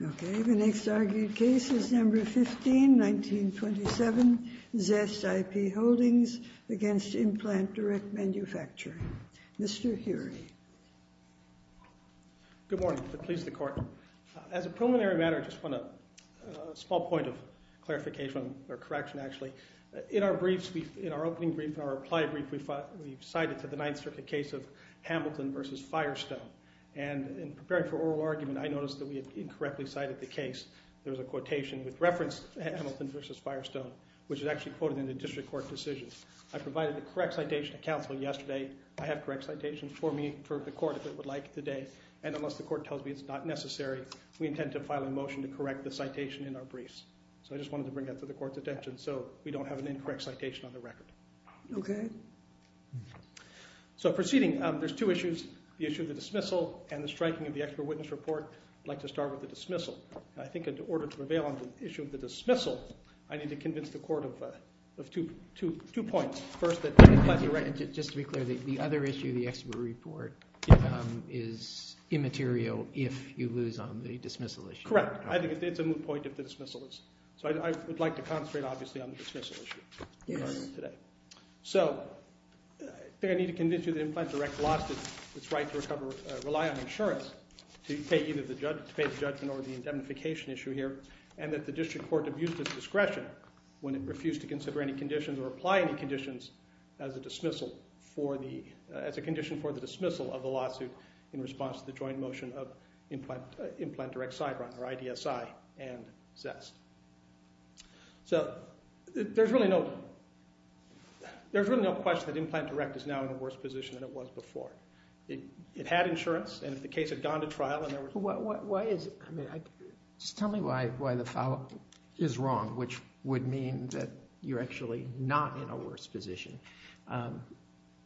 Okay, the next argued case is number 15, 1927 Zest IP Holdings v. Implant Direct Mfg. Mr. Heery. Good morning. Pleased to court. As a preliminary matter, I just want a small point of clarification or correction, actually. In our briefs, in our opening brief, our reply brief, we cited to the Ninth Circuit case of Hamilton v. Firestone. And in preparing for oral argument, I noticed that we had incorrectly cited the case. There was a quotation with reference to Hamilton v. Firestone, which is actually quoted in the district court decision. I provided the correct citation to counsel yesterday. I have correct citations for me, for the court, if it would like, today. And unless the court tells me it's not necessary, we intend to file a motion to correct the citation in our briefs. So I just wanted to bring that to the court's attention so we don't have an incorrect citation on the record. Okay. So proceeding, there's two issues. The issue of the dismissal and the striking of the expert witness report. I'd like to start with the dismissal. I think in order to prevail on the issue of the dismissal, I need to convince the court of two points. First, that the implant direct... Just to be clear, the other issue, the expert report, is immaterial if you lose on the dismissal issue. Correct. I think it's a moot point if the dismissal is. So I would like to concentrate, obviously, on the dismissal issue today. So I think I need to convince you that Implant Direct lost its right to rely on insurance to pay the judgment over the indemnification issue here, and that the district court abused its discretion when it refused to consider any conditions or apply any conditions as a condition for the dismissal of the lawsuit in response to the joint motion of Implant Direct's sideline, or IDSI and Zest. So there's really no question that Implant Direct is now in a worse position than it was before. It had insurance, and if the case had gone to trial and there was... Why is... Just tell me why the foul is wrong, which would mean that you're actually not in a worse position.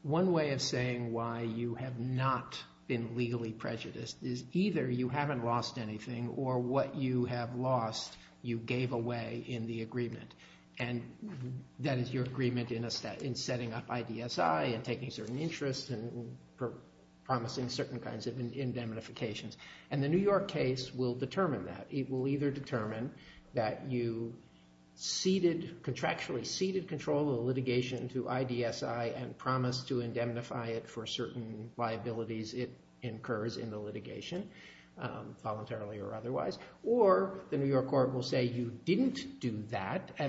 One way of saying why you have not been legally prejudiced is either you haven't lost anything or what you have lost you gave away in the agreement, and that is your agreement in setting up IDSI and taking certain interests and promising certain kinds of indemnifications. And the New York case will determine that. It will either determine that you contractually ceded control of the litigation to IDSI and promised to indemnify it for certain liabilities it incurs in the litigation, voluntarily or otherwise, or the case has gone to trial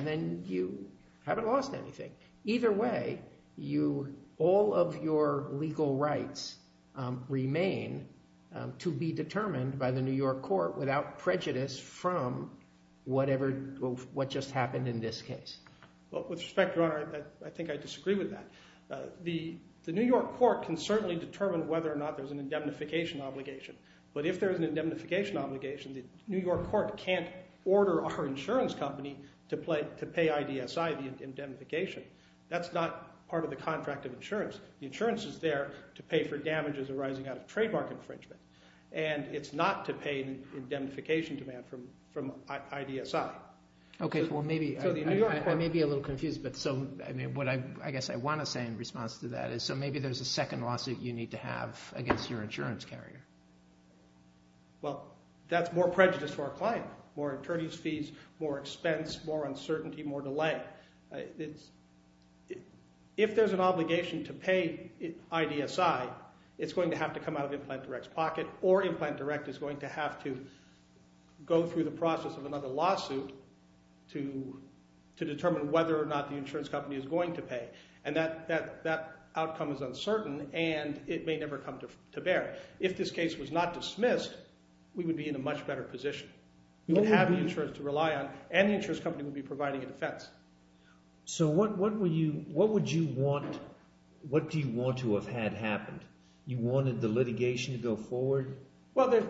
and you haven't lost anything. Either way, all of your legal rights remain to be determined by the New York court without prejudice from whatever... What just happened in this case. With respect, Your Honor, I think I disagree with that. The New York court can certainly determine whether or not there's an indemnification obligation, but if there's an indemnification obligation, the New York court can't order our insurance company to pay IDSI the indemnification. That's not part of the contract of insurance. The insurance is there to pay for damages arising out of trademark infringement, and it's not to pay indemnification demand from IDSI. Okay, well maybe... So the New York court... I may be a little confused, but so what I guess I want to say in response to that is so maybe there's a second lawsuit you need to have against your insurance carrier. Well, that's more prejudice for our client. More attorney's fees, more expense, more uncertainty, more delay. If there's an obligation to pay IDSI, it's going to have to come out of Implant Direct's pocket, or Implant Direct is going to have to go through the process of another lawsuit to determine whether or not the insurance company is going to pay, and that outcome is uncertain, and it may never come to bear. If this case was not dismissed, we would be in a much better position. We'd have insurance to rely on, and the insurance company would be providing a defense. So what would you want... What do you want to have had happened? You wanted the litigation to go forward? Well,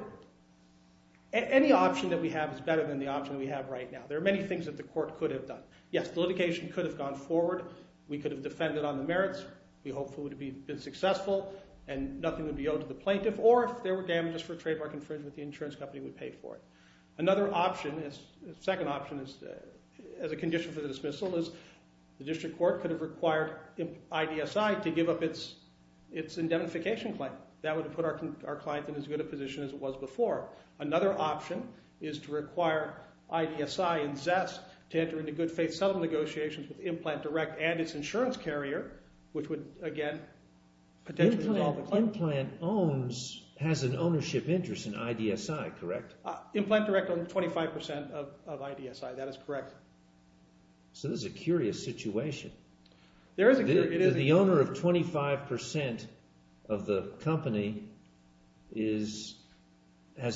any option that we have is better than the option we have right now. There are many things that the court could have done. Yes, the litigation could have gone forward. We could have defended on the merits. We hopefully would have been successful, and nothing would be owed to the plaintiff, or if there were damages for trademark infringement, the insurance company would pay for it. Another option, a second option as a condition for the dismissal, is the district court could have required IDSI to give up its indemnification claim. That would have put our client in as good a position as it was before. Another option is to require IDSI and Zest to enter into good-faith settlement negotiations with Implant Direct and its insurance carrier, which would, again, potentially... Implant Owns has an ownership interest in IDSI, correct? Implant Direct owns 25% of IDSI. That is correct. So this is a curious situation. The owner of 25% of the company has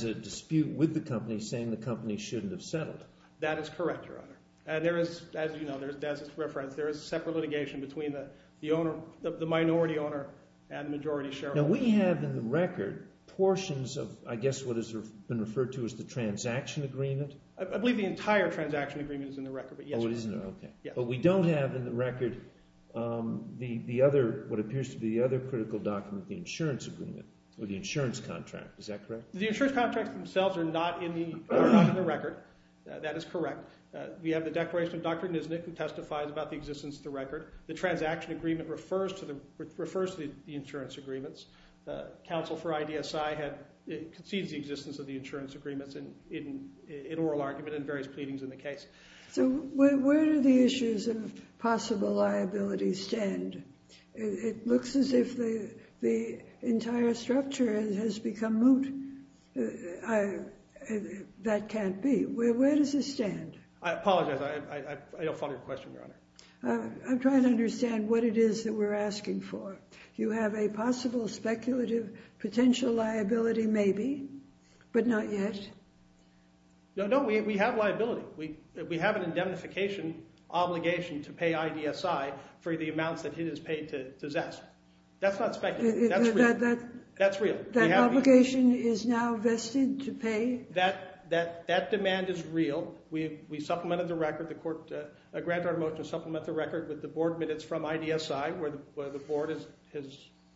a dispute with the company saying the company shouldn't have settled. That is correct, Your Honor. And there is, as you know, as is referenced, there is separate litigation between the minority owner and the majority shareholder. Now, we have in the record portions of, I guess what has been referred to as the transaction agreement? I believe the entire transaction agreement is in the record. Oh, it isn't? Okay. But we don't have in the record what appears to be the other critical document, the insurance agreement, or the insurance contract. Is that correct? The insurance contracts themselves are not in the record. That is correct. We have the declaration of Dr. Nisnik who testifies about the existence of the record. The transaction agreement refers to the insurance agreements. Counsel for IDSI concedes the existence of the insurance agreements in oral argument and various pleadings in the case. So where do the issues of possible liability stand? It looks as if the entire structure has become moot. That can't be. Where does it stand? I apologize. I don't follow your question, Your Honor. I'm trying to understand what it is that we're asking for. You have a possible speculative potential liability maybe, but not yet? No, we have liability. We have an indemnification obligation to pay IDSI for the amounts that it has paid to Zest. That's not speculative. That's real. That obligation is now vested to pay? That demand is real. We supplemented the record. The court granted our vote to supplement the record with the board minutes from IDSI where the board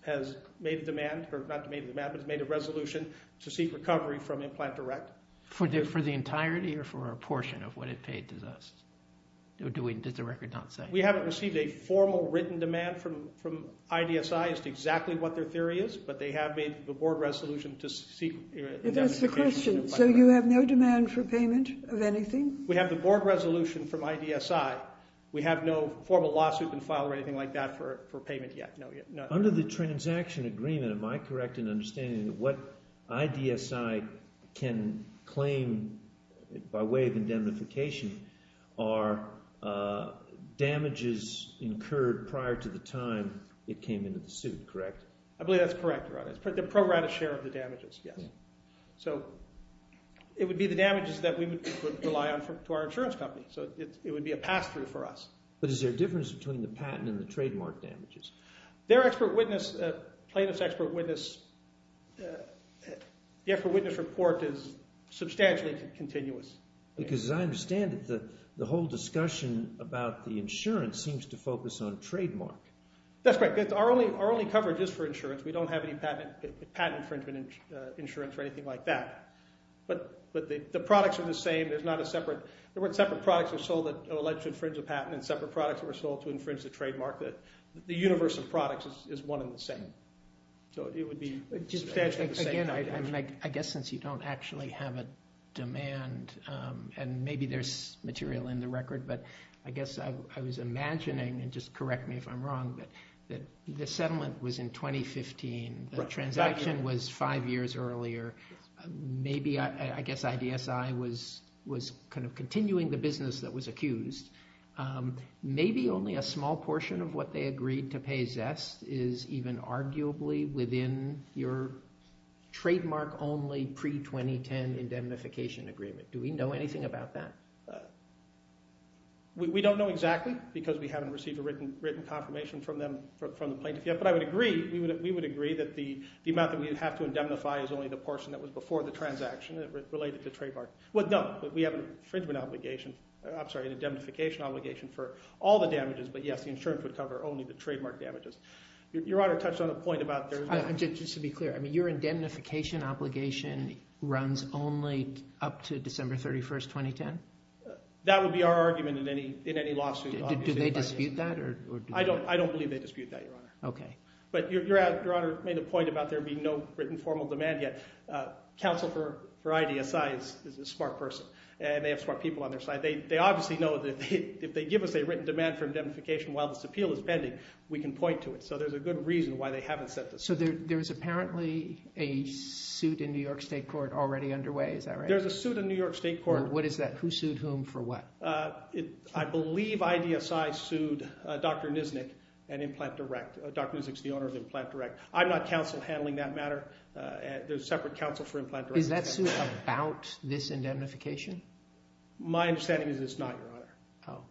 has made a resolution to seek recovery from Implant Direct. For the entirety or for a portion of what it paid to Zest? Did the record not say? We haven't received a formal written demand from IDSI as to exactly what their theory is, but they have made the board resolution to seek indemnification. So you have no demand for payment of anything? We have the board resolution from IDSI. We have no formal lawsuit in file or anything like that for payment yet. Under the transaction agreement, am I correct in understanding that what IDSI can claim by way of indemnification are damages incurred prior to the time it came into the suit, correct? I believe that's correct. The pro rata share of the damages, yes. It would be the damages that we would rely on to our insurance company. It would be a pass-through for us. But is there a difference between the patent and the trademark damages? Their expert witness, plaintiff's expert witness, the expert witness report is substantially continuous. Because as I understand it, the whole discussion about the insurance seems to focus on trademark. That's right. Our only coverage is for insurance. We don't have any patent infringement insurance or anything like that. But the products are the same. There weren't separate products that were sold that were alleged to infringe a patent and separate products that were sold to infringe the trademark. The universe of products is one and the same. Again, I guess since you don't actually have a demand, and maybe there's material in the record, but I guess I was imagining, and just correct me if I'm wrong, that the settlement was in 2015. The transaction was five years earlier. Maybe, I guess, IDSI was kind of continuing the business that was accused. Maybe only a small portion of what they agreed to pay Zest is even arguably within your trademark-only pre-2010 indemnification agreement. Do we know anything about that? We don't know exactly because we haven't received a written confirmation from the plaintiff yet. But we would agree that the amount that we would have to indemnify is only the portion that was before the transaction related to trademark. No, we have an infringement obligation, I'm sorry, an indemnification obligation for all the damages, but yes, the insurance would cover only the trademark damages. Your Honor touched on a point about... Your indemnification obligation runs only up to December 31, 2010? That would be our argument in any lawsuit. Do they dispute that? I don't believe they dispute that, Your Honor. But Your Honor made a point about there being no written formal demand yet. Counsel for IDSI is a smart person and they have smart people on their side. They obviously know that if they give us a written demand for indemnification while this appeal is pending, we can point to it. So there's a good reason why they haven't set this up. So there's apparently a suit in New York State Court already underway, is that right? There's a suit in New York State Court. What is that? Who sued whom for what? I believe IDSI sued Dr. Nisnik and Implant Direct. Dr. Nisnik's the owner of Implant Direct. I'm not counsel handling that Is that suit about this indemnification? My understanding is it's not, Your Honor.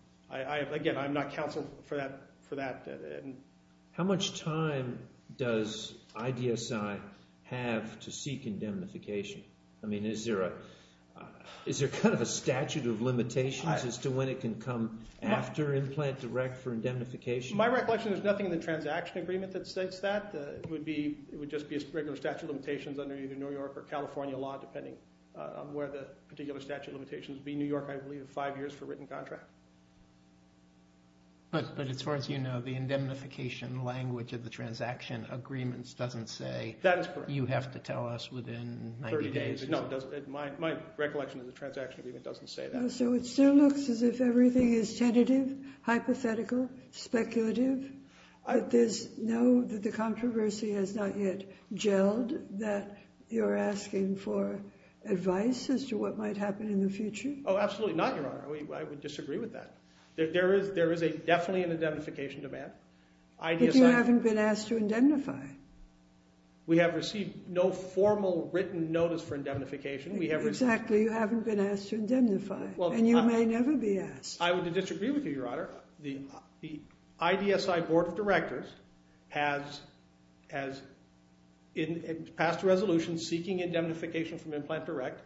How much time does IDSI have to seek indemnification? Is there kind of a statute of limitations as to when it can come after Implant Direct for indemnification? My recollection is there's nothing in the transaction agreement that states that. It would just be a regular statute of limitations under either New York or California law depending on where the particular statute of limitations would be. New York, I believe, five years for written contract. But as far as you know, the indemnification language of the transaction agreements doesn't say you have to tell us within 90 days. My recollection of the transaction agreement doesn't say that. So it still looks as if everything is tentative, hypothetical, speculative? That the controversy has not yet gelled that you're asking for advice as to what might happen in the future? Oh, absolutely not, Your Honor. I would disagree with that. There is definitely an indemnification demand. But you haven't been asked to indemnify. We have received no formal written notice for indemnification. Exactly. You haven't been asked to indemnify. And you may never be asked. I would disagree with you, Your Honor. The IDSI Board of Directors has passed a resolution seeking indemnification from Implant Direct.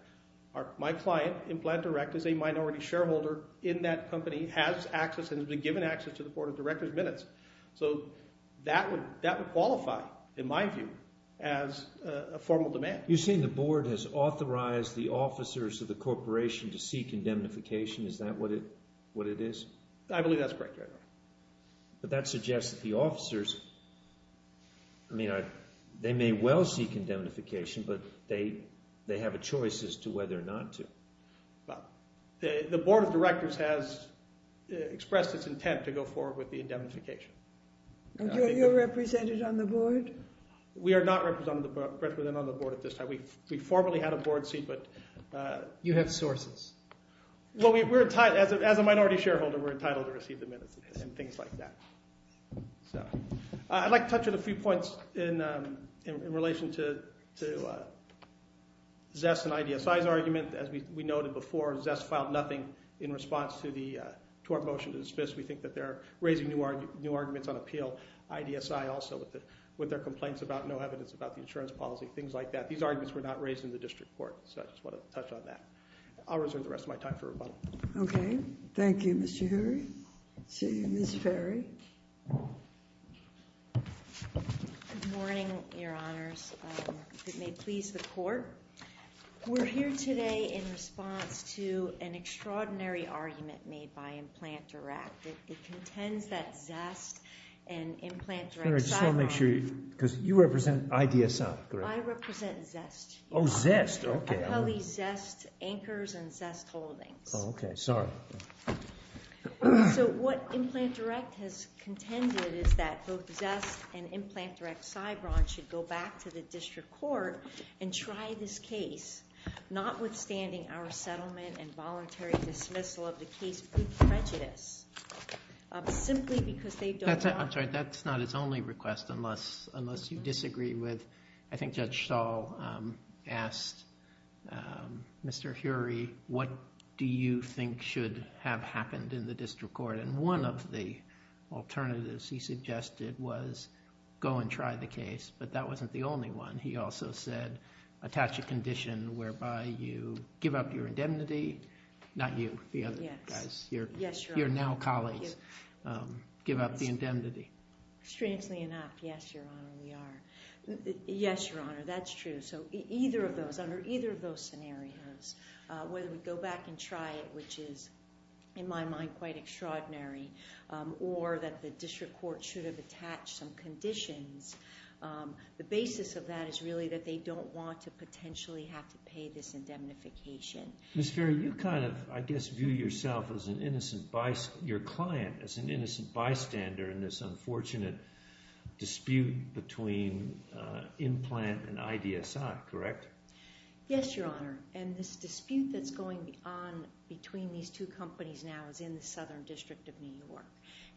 My client, Implant Direct, is a minority shareholder in that company, has access and has been given access to the Board of Directors minutes. So that would qualify, in my view, as a formal demand. You're saying the Board has authorized the officers of the corporation to seek indemnification? Is that what it is? I believe that's correct, Your Honor. But that suggests that the officers may well seek indemnification, but they have a choice as to whether or not to. The Board of Directors has expressed its intent to go forward with the indemnification. You're represented on the Board? We are not represented on the Board at this time. We formerly had a Board seat. As a minority shareholder, we're entitled to receive the minutes. I'd like to touch on a few points in relation to Zest and IDSI's argument. As we noted before, Zest filed nothing in response to our motion to dismiss. We think that they're raising new arguments on appeal. IDSI also, with their complaints about no evidence about the insurance policy, things like that. These arguments were not raised in the district court. I'll reserve the rest of my time for rebuttal. Thank you, Mr. Hury. Ms. Ferry? Good morning, Your Honors. If it may please the Court, we're here today in response to an extraordinary argument made by Implant Direct. It contends that Zest and Implant Direct I just want to make sure, because you represent IDSI, correct? I represent Zest. Oh, Zest, okay. Zest Anchors and Zest Holdings. What Implant Direct has contended is that both Zest and Implant Direct Sybron should go back to the district court and try this case, notwithstanding our settlement and voluntary dismissal of the case with prejudice, simply because they don't want to. I'm sorry, that's not its only request, unless you disagree with I think Judge Stahl asked Mr. Hury, what do you think should have happened in the district court? And one of the alternatives he suggested was go and try the case, but that wasn't the only one. He also said, attach a condition whereby you give up your indemnity, not you, the other guys, your now colleagues, give up the indemnity. Strangely enough, yes, Your Honor, we are. Yes, Your Honor, that's true. Under either of those scenarios, whether we go back and try it, which is, in my mind, quite extraordinary, or that the district court should have attached some conditions, the basis of that is really that they don't want to potentially have to pay this indemnification. Ms. Ferry, you kind of, I guess, view yourself as an innocent, your client as an innocent bystander in this unfortunate dispute between Implant and IDSI, correct? Yes, Your Honor, and this dispute that's going on between these two companies now is in the Southern District of New York,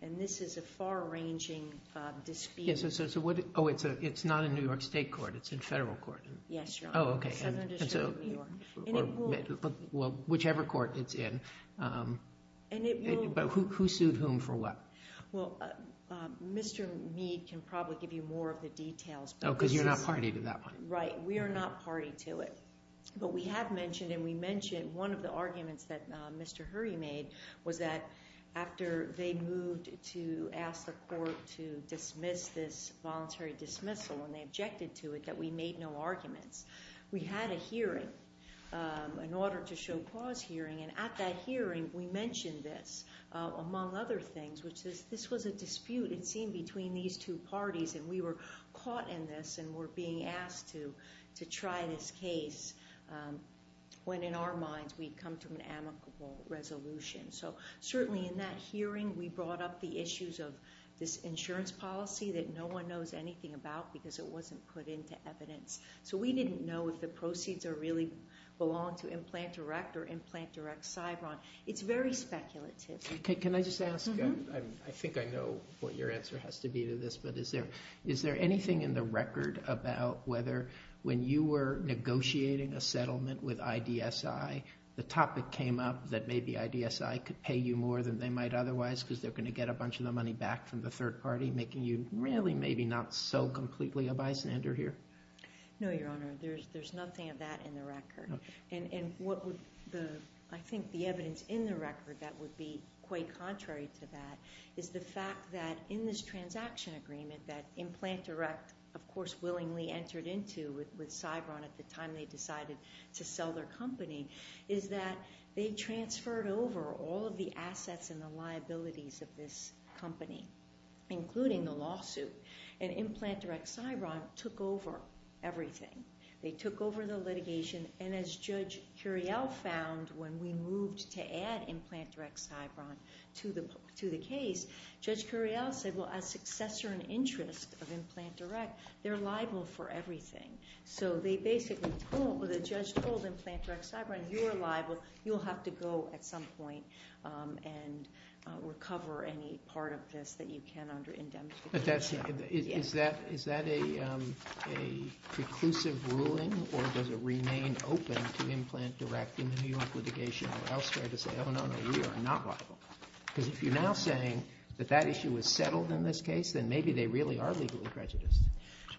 and this is a far-ranging dispute. Oh, it's not in New York State Court, it's in whichever court it's in, but who sued whom for what? Mr. Mead can probably give you more of the details. Oh, because you're not party to that one. Right, we are not party to it, but we have mentioned and we mentioned one of the arguments that Mr. Hurry made was that after they moved to ask the court to dismiss this voluntary dismissal, and they objected to it, that we made no arguments. We had a hearing, an order to show cause hearing, and at that hearing we mentioned this, among other things, which is this was a dispute, it seemed, between these two parties, and we were caught in this and were being asked to try this case when in our minds we'd come to an amicable resolution. So certainly in that hearing we brought up the issues of this insurance policy that no one knows anything about because it wasn't put into evidence. So we didn't know if the proceeds really belonged to Implant Direct or Implant Direct-Cybron. It's very speculative. Can I just ask, I think I know what your answer has to be to this, but is there anything in the record about whether when you were negotiating a settlement with IDSI the topic came up that maybe IDSI could pay you more than they might otherwise because they're going to get a bunch of the money back from the third party, making you really maybe not so completely a bystander here? No, Your Honor. There's nothing of that in the record. And what would the I think the evidence in the record that would be quite contrary to that is the fact that in this transaction agreement that Implant Direct of course willingly entered into with Cybron at the time they decided to sell their company is that they transferred over all of the assets and the liabilities of this company including the lawsuit. And Implant Direct-Cybron took over everything. They took over the litigation and as Judge Curiel found when we moved to add Implant Direct-Cybron to the case, Judge Curiel said, well as successor and interest of Implant Direct, they're liable for everything. So they basically told, the judge told Implant Direct-Cybron, you're liable, you'll have to go at some point and recover any part of this that you can under indemnity. Is that a preclusive ruling or does it remain open to Implant Direct in the New York litigation or elsewhere to say, oh no, no, we are not liable? Because if you're now saying that that issue is settled in this case, then maybe they really are legally prejudiced.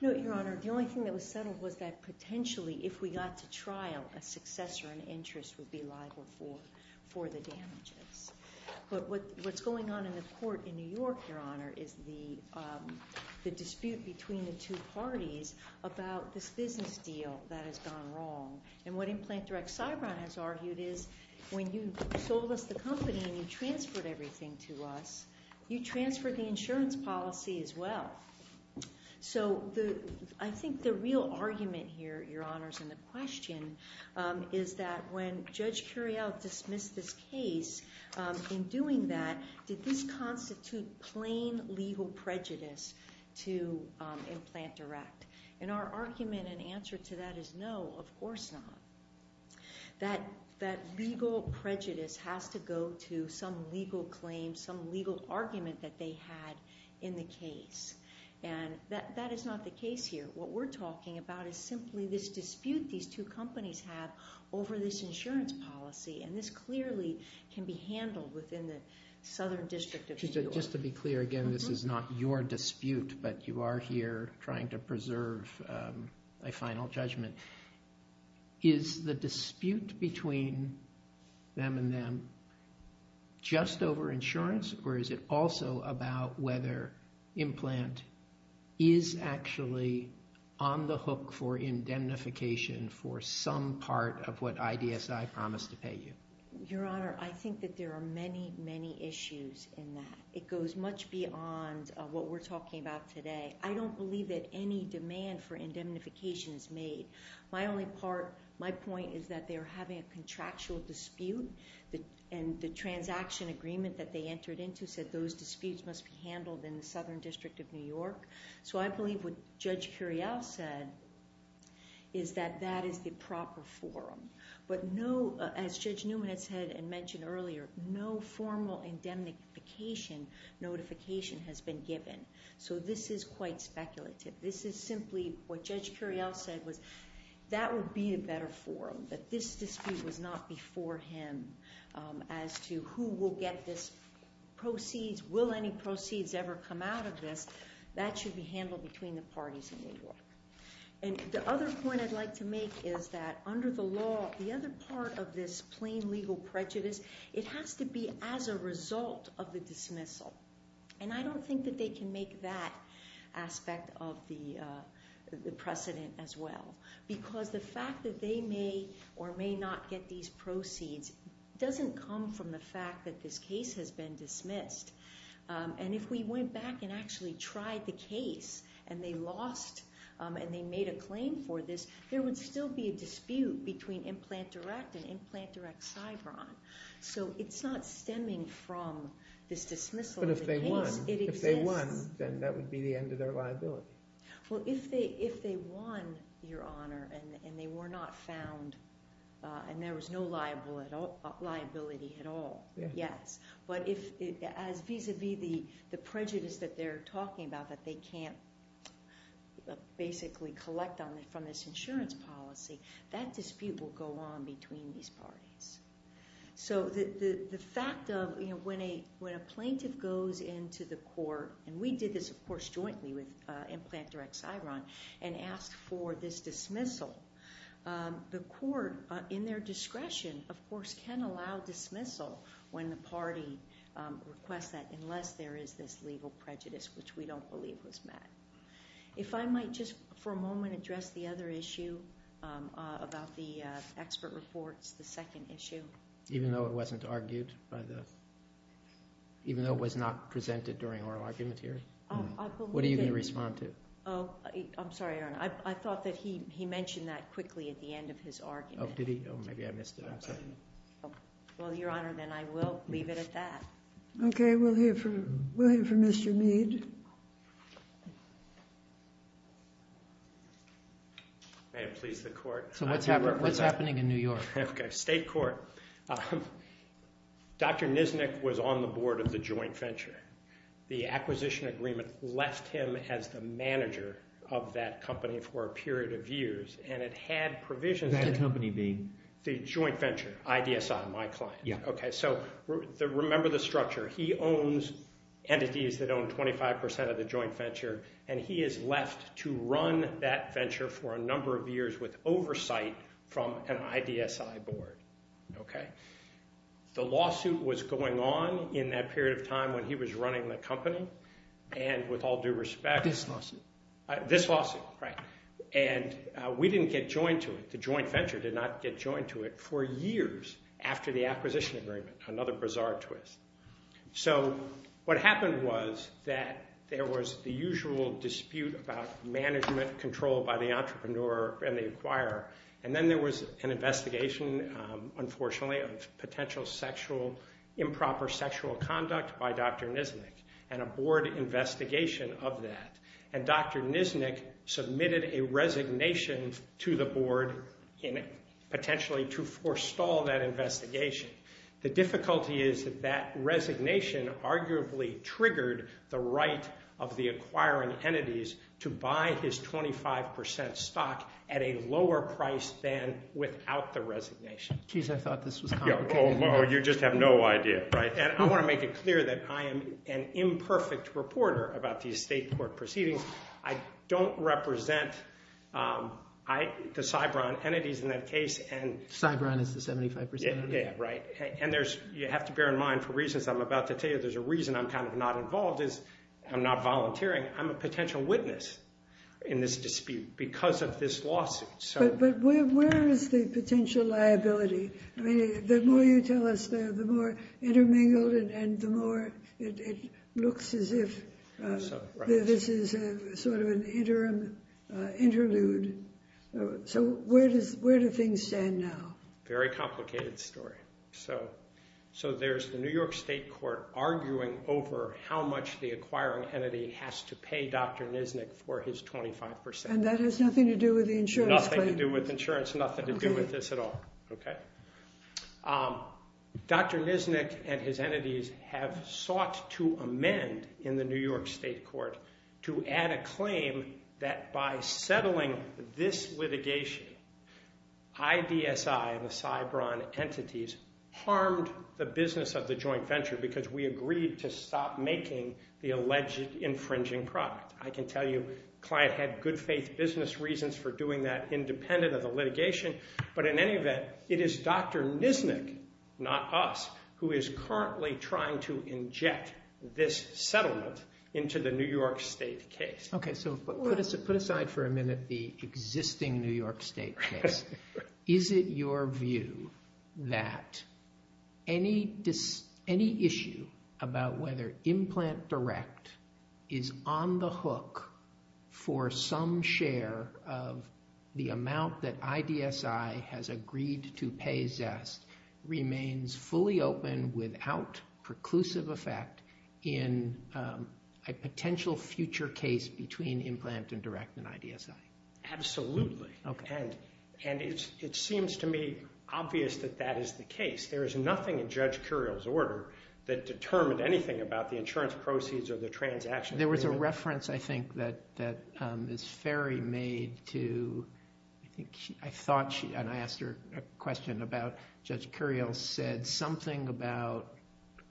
No, Your Honor. The only thing that was settled was that potentially if we got to trial a successor and interest would be liable for the damages. But what's going on in the court in New York, Your Honor, is the dispute between the two parties about this business deal that has gone wrong. And what Implant Direct-Cybron has argued is when you sold us the company and you transferred everything to us, you transferred the insurance policy as well. So I think the real argument here, Your Honors, in the question is that when Judge Curiel dismissed this case, in doing that, did this constitute plain legal prejudice to Implant Direct? And our argument and answer to that is no, of course not. That legal prejudice has to go to some legal claim, some legal argument that they had in the case. And that is not the case here. What we're talking about is simply this dispute these two companies have over this insurance policy. And this clearly can be handled within the Southern District of New York. Just to be clear again, this is not your dispute, but you are here trying to preserve a final judgment. Is the dispute between them and them just over insurance? Or is it also about whether Implant is actually on the hook for indemnification for some part of what IDSI promised to pay you? Your Honor, I think that there are many, many issues in that. It goes much beyond what we're talking about today. I don't believe that any demand for indemnification is made. My only part, my point is that they're having a contractual dispute and the transaction agreement that they entered into said those disputes must be handled in the Southern District of New York. So I believe what Judge Curiel said is that that is the proper forum. But no, as Judge Newman had said and mentioned earlier, no formal indemnification notification has been given. So this is quite speculative. This is simply what Judge Curiel said was that would be a better forum. That this dispute was not before him as to who will get this proceeds. Will any proceeds ever come out of this? That should be handled between the parties in New York. And the other point I'd like to make is that under the law, the other part of this plain legal prejudice, it has to be as a result of the dismissal. And I don't think that they can make that aspect of the precedent as well. Because the fact that they may or may not get these proceeds doesn't come from the fact that this case has been dismissed. And if we went back and actually tried the case and they lost and they made a claim for this, there would still be a dispute between Implant Direct and Implant Direct-Cybron. So it's not stemming from this dismissal of the case. But if they won, then that would be the end of their liability. Well, if they won, Your Honor, and they were not found, and there was no liability at all, yes. But as vis-a-vis the prejudice that they're talking about that they can't basically collect from this insurance policy, that dispute will go on between these parties. So the fact of when a plaintiff goes into the court, and we did this, of course, jointly with Implant Direct-Cybron, and asked for this dismissal, the court in their discretion, of course, can allow dismissal when the party requests that, unless there is this legal prejudice, which we don't believe was met. If I might just for a moment address the other issue about the expert reports, the second issue. Even though it wasn't argued? Even though it was not presented during oral argument here? What are you going to respond to? Oh, I'm sorry, Your Honor. I thought that he mentioned that quickly at the end of his argument. Oh, did he? Oh, maybe I missed it. I'm sorry. Well, Your Honor, then I will leave it at that. Okay, we'll hear from Mr. Mead. So what's happening in New York? Dr. Nisnik was on the board of the joint venture. The acquisition agreement left him as the manager of that company for a period of years. That company being? The joint venture, IDSI, my client. So remember the structure. He owns entities that own 25% of the joint venture, and he is left to run that venture for a number of years with oversight from an IDSI board. The lawsuit was going on in that period of time when he was running the company, and with all due respect, This lawsuit. This lawsuit, right. And we didn't get joined to it. The joint venture did not get joined to it for years after the acquisition agreement, another bizarre twist. So what happened was that there was the usual dispute about management control by the entrepreneur and the acquirer, and then there was an investigation, unfortunately, of potential sexual improper sexual conduct by Dr. Nisnik, and a board investigation of that. And Dr. Nisnik submitted a resignation to the board, potentially to forestall that investigation. The difficulty is that resignation arguably triggered the right of the acquiring entities to buy his 25% stock at a lower price than without the resignation. You just have no idea. And I want to make it clear that I am an imperfect reporter about these state court proceedings. I don't represent the Cybron entities in that case. Cybron is the 75%? Yeah, right. And you have to bear in mind, for reasons I'm about to tell you, there's a reason I'm kind of not involved is I'm not volunteering. I'm a potential witness in this dispute because of this lawsuit. But where is the potential liability? I mean, the more you tell us there, the more it looks as if this is sort of an interim interlude. So where do things stand now? Very complicated story. So there's the New York state court arguing over how much the acquiring entity has to pay Dr. Nisnik for his 25%. And that has nothing to do with the insurance claim? Nothing to do with insurance, nothing to do with this at all. Okay? Dr. Nisnik and his entities have sought to amend in the New York state court to add a claim that by settling this litigation, IDSI and the Cybron entities harmed the business of the joint venture because we agreed to stop making the alleged infringing product. I can tell you the client had good faith business reasons for doing that independent of the litigation. But in any event, it is Dr. Nisnik, not us, who is currently trying to inject this settlement into the New York state case. Put aside for a minute the existing New York state case. Is it your view that any issue about whether Implant Direct is on the hook for some share of the amount that IDSI has remains fully open without preclusive effect in a potential future case between Implant and Direct and IDSI? Absolutely. And it seems to me obvious that that is the case. There is nothing in Judge Curiel's order that determined anything about the insurance proceeds or the transaction agreement. There was a reference, I think, that Ms. Ferry made to, I asked her a question about, Judge Curiel said something about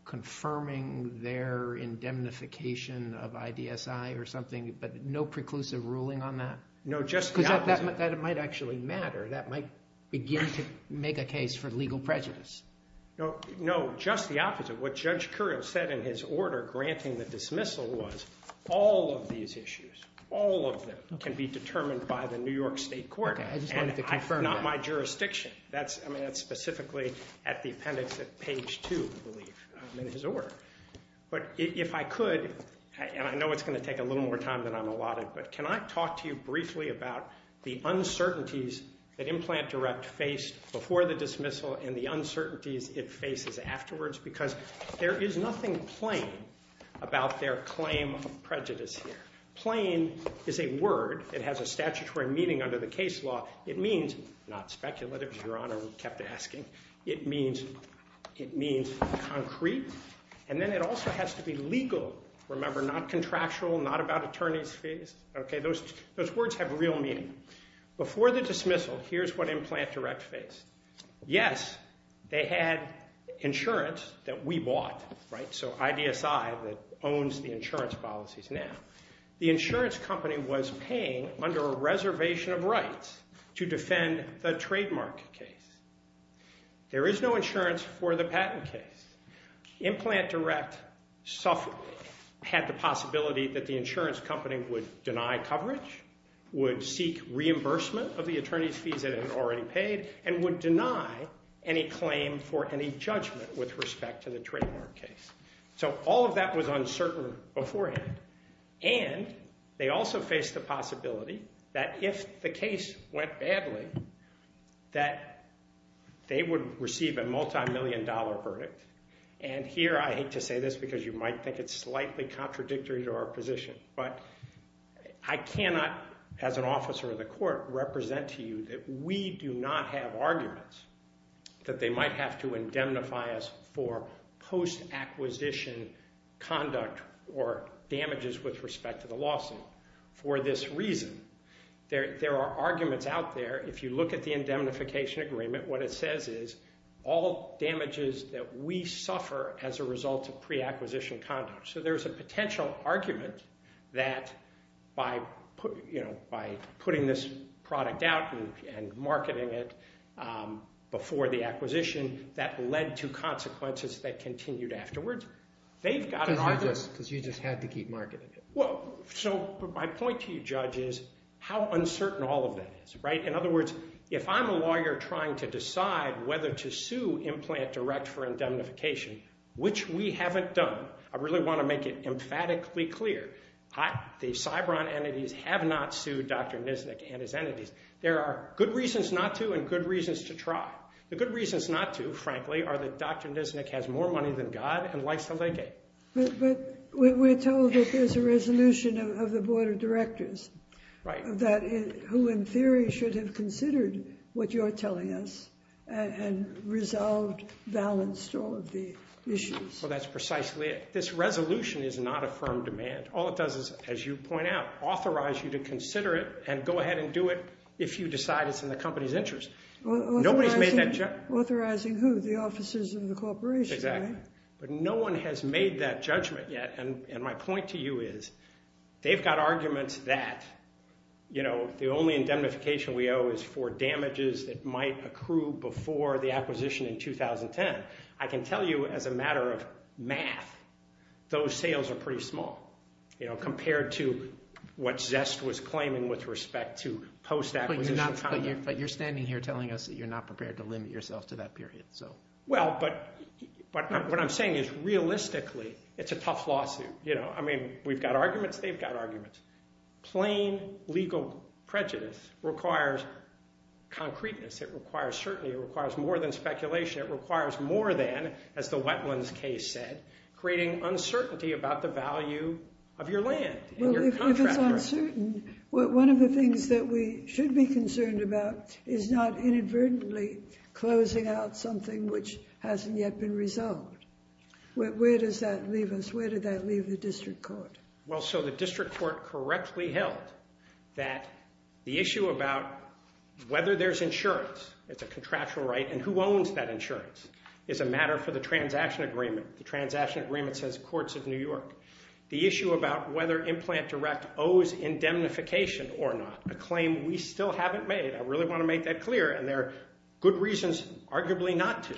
confirming their indemnification of IDSI or something, but no preclusive ruling on that? Because that might actually matter. That might begin to make a case for legal prejudice. No, just the opposite. What Judge Curiel said in his order granting the dismissal was all of these issues, all of them, can be determined by the New York state court. Not my jurisdiction. That's specifically at the appendix at page 2, I believe, in his order. But if I could, and I know it's going to take a little more time than I'm allotted, but can I talk to you briefly about the uncertainties that Implant Direct faced before the dismissal and the uncertainties it faces afterwards? Because there is nothing plain about their claim of prejudice here. Plain is a word that has a statutory meaning under the case law. It means not speculative, Your Honor, we kept asking. It means concrete. And then it also has to be legal. Remember, not contractual, not about attorney's fees. Those words have real meaning. Before the dismissal, here's what Implant Direct faced. Yes, they had insurance that we bought, so IDSI that owns the insurance policies now. The insurance company was paying under a reservation of rights to defend the trademark case. There is no insurance for the patent case. Implant Direct had the possibility that the insurance company would deny coverage, would seek reimbursement of the attorney's fees that it had already paid, and would deny any claim for any judgment with respect to the trademark case. So all of that was uncertain beforehand. And they also faced the possibility that if the case went badly, that they would receive a multi-million dollar verdict. And here, I hate to say this because you might think it's slightly contradictory to our position, but I cannot, as an officer of the court, represent to you that we do not have arguments that they might have to indemnify us for post-acquisition conduct or damages with respect to the lawsuit for this reason. There are arguments out there. If you look at the indemnification agreement, what it says is all damages that we suffer as a result of pre-acquisition conduct. So there's a potential argument that by putting this product out and marketing it before the acquisition, that led to consequences that continued afterwards. My point to you, Judge, is how uncertain all of that is. In other words, if I'm a lawyer trying to decide whether to sue Implant Direct for indemnification, which we haven't done, I really want to make it emphatically clear, the Cybron entities have not sued Dr. Nisnik and his entities. There are good reasons not to, and good reasons to try. The good reasons not to, frankly, are that Dr. Nisnik has more money than God and likes to legate. But we're told that there's a resolution of the Board of Directors who, in theory, should have considered what you're telling us and resolved, balanced all of the issues. Well, that's precisely it. This resolution is not a firm demand. All it does is, as you point out, authorize you to consider it and go ahead and do it if you decide it's in the company's interest. Authorizing who? The officers of the corporation, right? Exactly. But no one has made that judgment yet, and my point to you is, they've got arguments that the only indemnification we owe is for damages that might accrue before the acquisition in 2010. I can tell you, as a matter of math, those sales are pretty small, compared to what Zest was claiming with respect to post-acquisition But you're standing here telling us that you're not prepared to limit yourself to that period. Well, but what I'm saying is, realistically, it's a tough lawsuit. I mean, we've got arguments, they've got arguments. Plain legal prejudice requires concreteness, it requires certainty, it requires more than speculation, it requires more than as the Wetlands case said, creating uncertainty about the value of your land and your contract. Well, if it's uncertain, one of the things that we should be concerned about is not inadvertently closing out something which hasn't yet been resolved. Where does that leave us? Where did that leave the district court? Well, so the district court correctly held that the issue about whether there's insurance, it's a contractual right, and who owns that insurance, is a matter for the transaction agreement. The transaction agreement says Courts of New York. The issue about whether Implant Direct owes indemnification or not, a claim we still haven't made. I really want to make that clear, and there are good reasons arguably not to.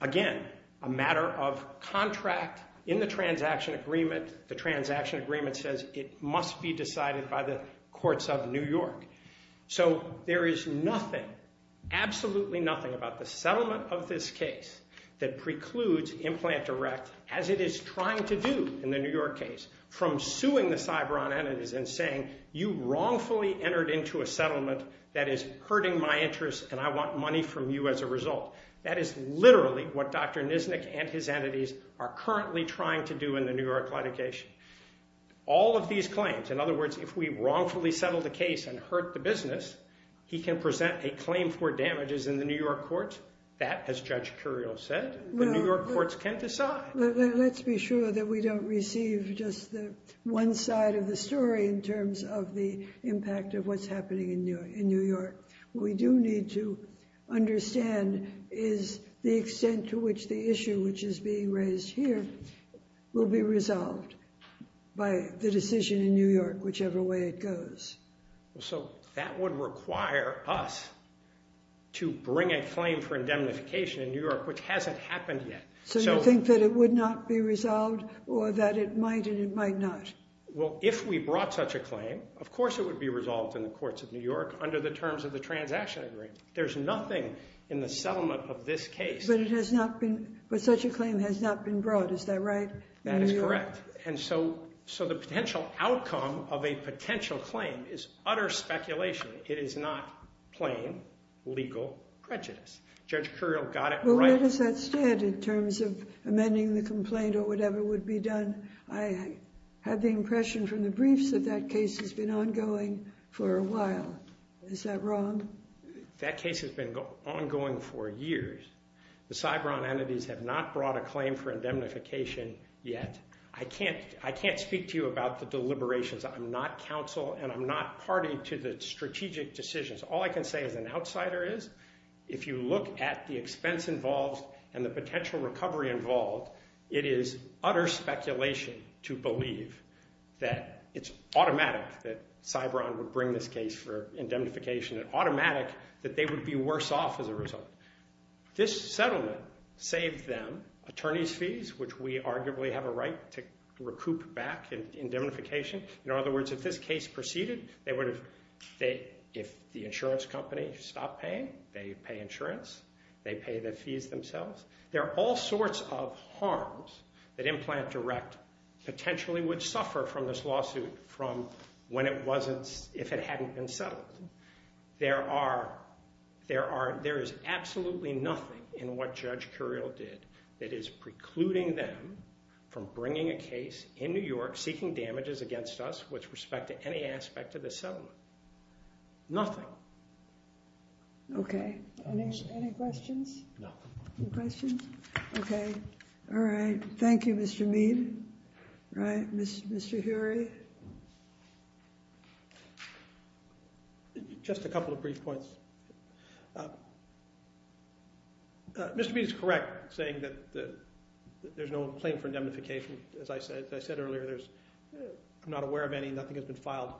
Again, a matter of contract in the transaction agreement. The transaction agreement says it must be decided by the Courts of New York. So there is nothing, absolutely nothing, about the settlement of this case that precludes Implant Direct, as it is trying to do in the New York case, from suing the Cybron entities and saying, you wrongfully entered into a settlement that is hurting my interests and I want money from you as a result. That is literally what Dr. Nisnik and his entities are currently trying to do in the New York litigation. All of these claims, in other words, if we wrongfully settle the case and hurt the business, he can present a claim for damages in the New York courts. That, as Judge Curiel said, the New York courts can decide. Let's be sure that we don't receive just the one side of the story in terms of the impact of what's happening in New York. What we do need to understand is the extent to which the issue which is being raised here will be resolved by the decision in New York, whichever way it goes. So that would require us to bring a claim for indemnification in New York, which hasn't happened yet. So you think that it would not be resolved or that it might and it might not? Well, if we brought such a claim, of course it would be resolved in the courts of New York under the terms of the transaction agreement. There's nothing in the settlement of this case. But such a claim has not been brought, is that right? That is correct. And so the potential outcome of a potential claim is utter speculation. It is not plain legal prejudice. Judge Curiel got it right. But where does that stand in terms of amending the complaint or whatever would be done? I have the impression from the briefs that that case has been ongoing for a while. Is that wrong? That case has been ongoing for years. The Cybron entities have not brought a claim for indemnification yet. I can't speak to you about the deliberations. I'm not counsel and I'm not party to the strategic decisions. All I can say as an outsider is, if you look at the expense involved and the potential recovery involved, it is utter speculation to believe that it's automatic that Cybron would bring this case for indemnification and automatic that they would be worse off as a result. This settlement saved them attorney's fees, which we arguably have a right to recoup back indemnification. In other words, if this case proceeded, they would have if the insurance company stopped paying, they pay insurance they pay the fees themselves. There are all sorts of harms that Implant Direct potentially would suffer from this lawsuit from when it wasn't, if it hadn't been settled. There is absolutely nothing in what Judge Curiel did that is precluding them from bringing a case in New York seeking damages against us with respect to any aspect of the settlement. Nothing. Okay. Any questions? Okay. All right. Thank you, Mr. Mead. All right. Mr. Hury. Just a couple of brief points. Mr. Mead is correct saying that there's no claim for indemnification. As I said earlier, I'm not aware of any. Nothing has been filed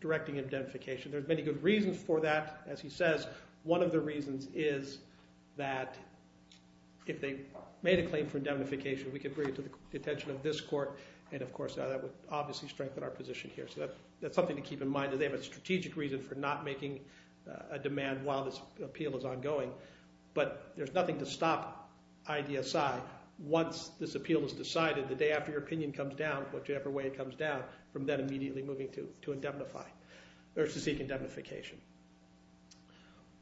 directing indemnification. There's many good reasons for that. As he says, one of the reasons is that if they made a claim for indemnification, we could bring it to the attention of this court, and of course that would obviously strengthen our position here. So that's something to keep in mind. They have a strategic reason for not making a demand while this appeal is ongoing. But there's nothing to stop IDSI once this appeal is decided the day after your opinion comes down, whichever way it comes down, from then immediately moving to indemnify, or to seek indemnification.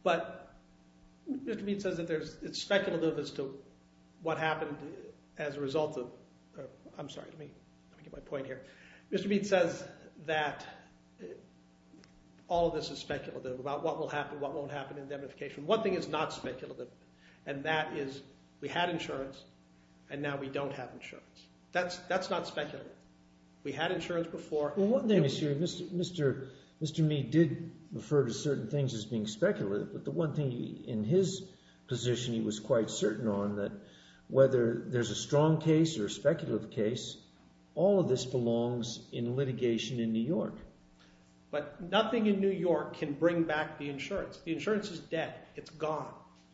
But Mr. Mead says that it's speculative as to what happened as a result of I'm sorry. Let me get my point here. Mr. Mead says that all of this is speculative about what will happen, what won't happen in indemnification. One thing is not speculative, and that is we had insurance, and now we don't have insurance. That's not speculative. We had insurance before... Mr. Mead did refer to certain things as being speculative, but the one thing in his position he was quite certain on, that whether there's a strong case or a speculative case, all of this belongs in litigation in New York. But nothing in New York can bring back the insurance. The insurance is dead. It's gone.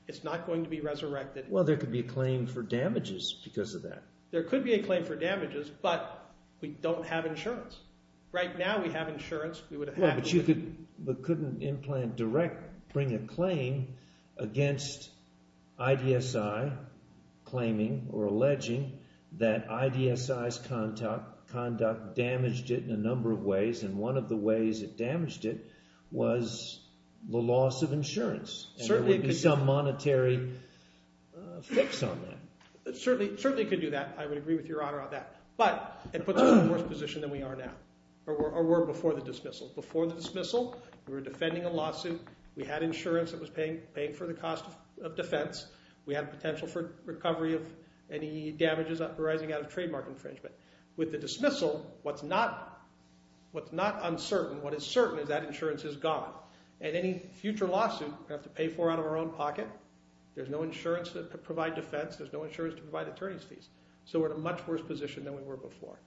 It's not going to be resurrected. Well, there could be a claim for damages because of that. There could be a claim for damages, but we don't have insurance. Right now we have insurance. We would have had insurance. But couldn't Implant Direct bring a claim against IDSI claiming or alleging that IDSI's conduct damaged it in a number of ways, and one of the ways it damaged it was the loss of insurance, and there would be some monetary fix on that. Certainly it could do that. I would agree with Your Honor on that. But it puts us in a worse position than we are now, or were before the dismissal. Before the dismissal, we were defending a lawsuit. We had insurance that was paying for the cost of defense. We had potential for recovery of any damages arising out of trademark infringement. With the dismissal, what's not uncertain, what is certain, is that insurance is gone, and any future lawsuit we have to pay for out of our own pocket. There's no insurance to provide defense. There's no insurance to provide attorney's fees. So we're in a much worse position than we were before.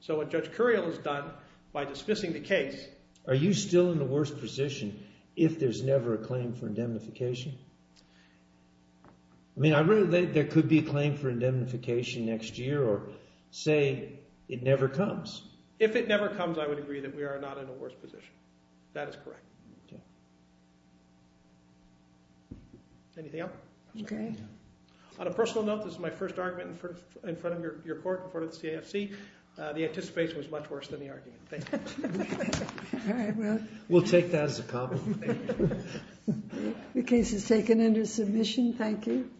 So what Judge Curiel has done by dismissing the case... Are you still in a worse position if there's never a claim for indemnification? I mean, there could be a claim for indemnification next year or say it never comes. If it never comes, I would agree that we are not in a worse position. That is correct. Anything else? On a personal note, this is my first argument in front of your court, in front of the CAFC. The anticipation was much worse than the argument. Thank you. We'll take that as a problem. The case is taken under submission. Thank you.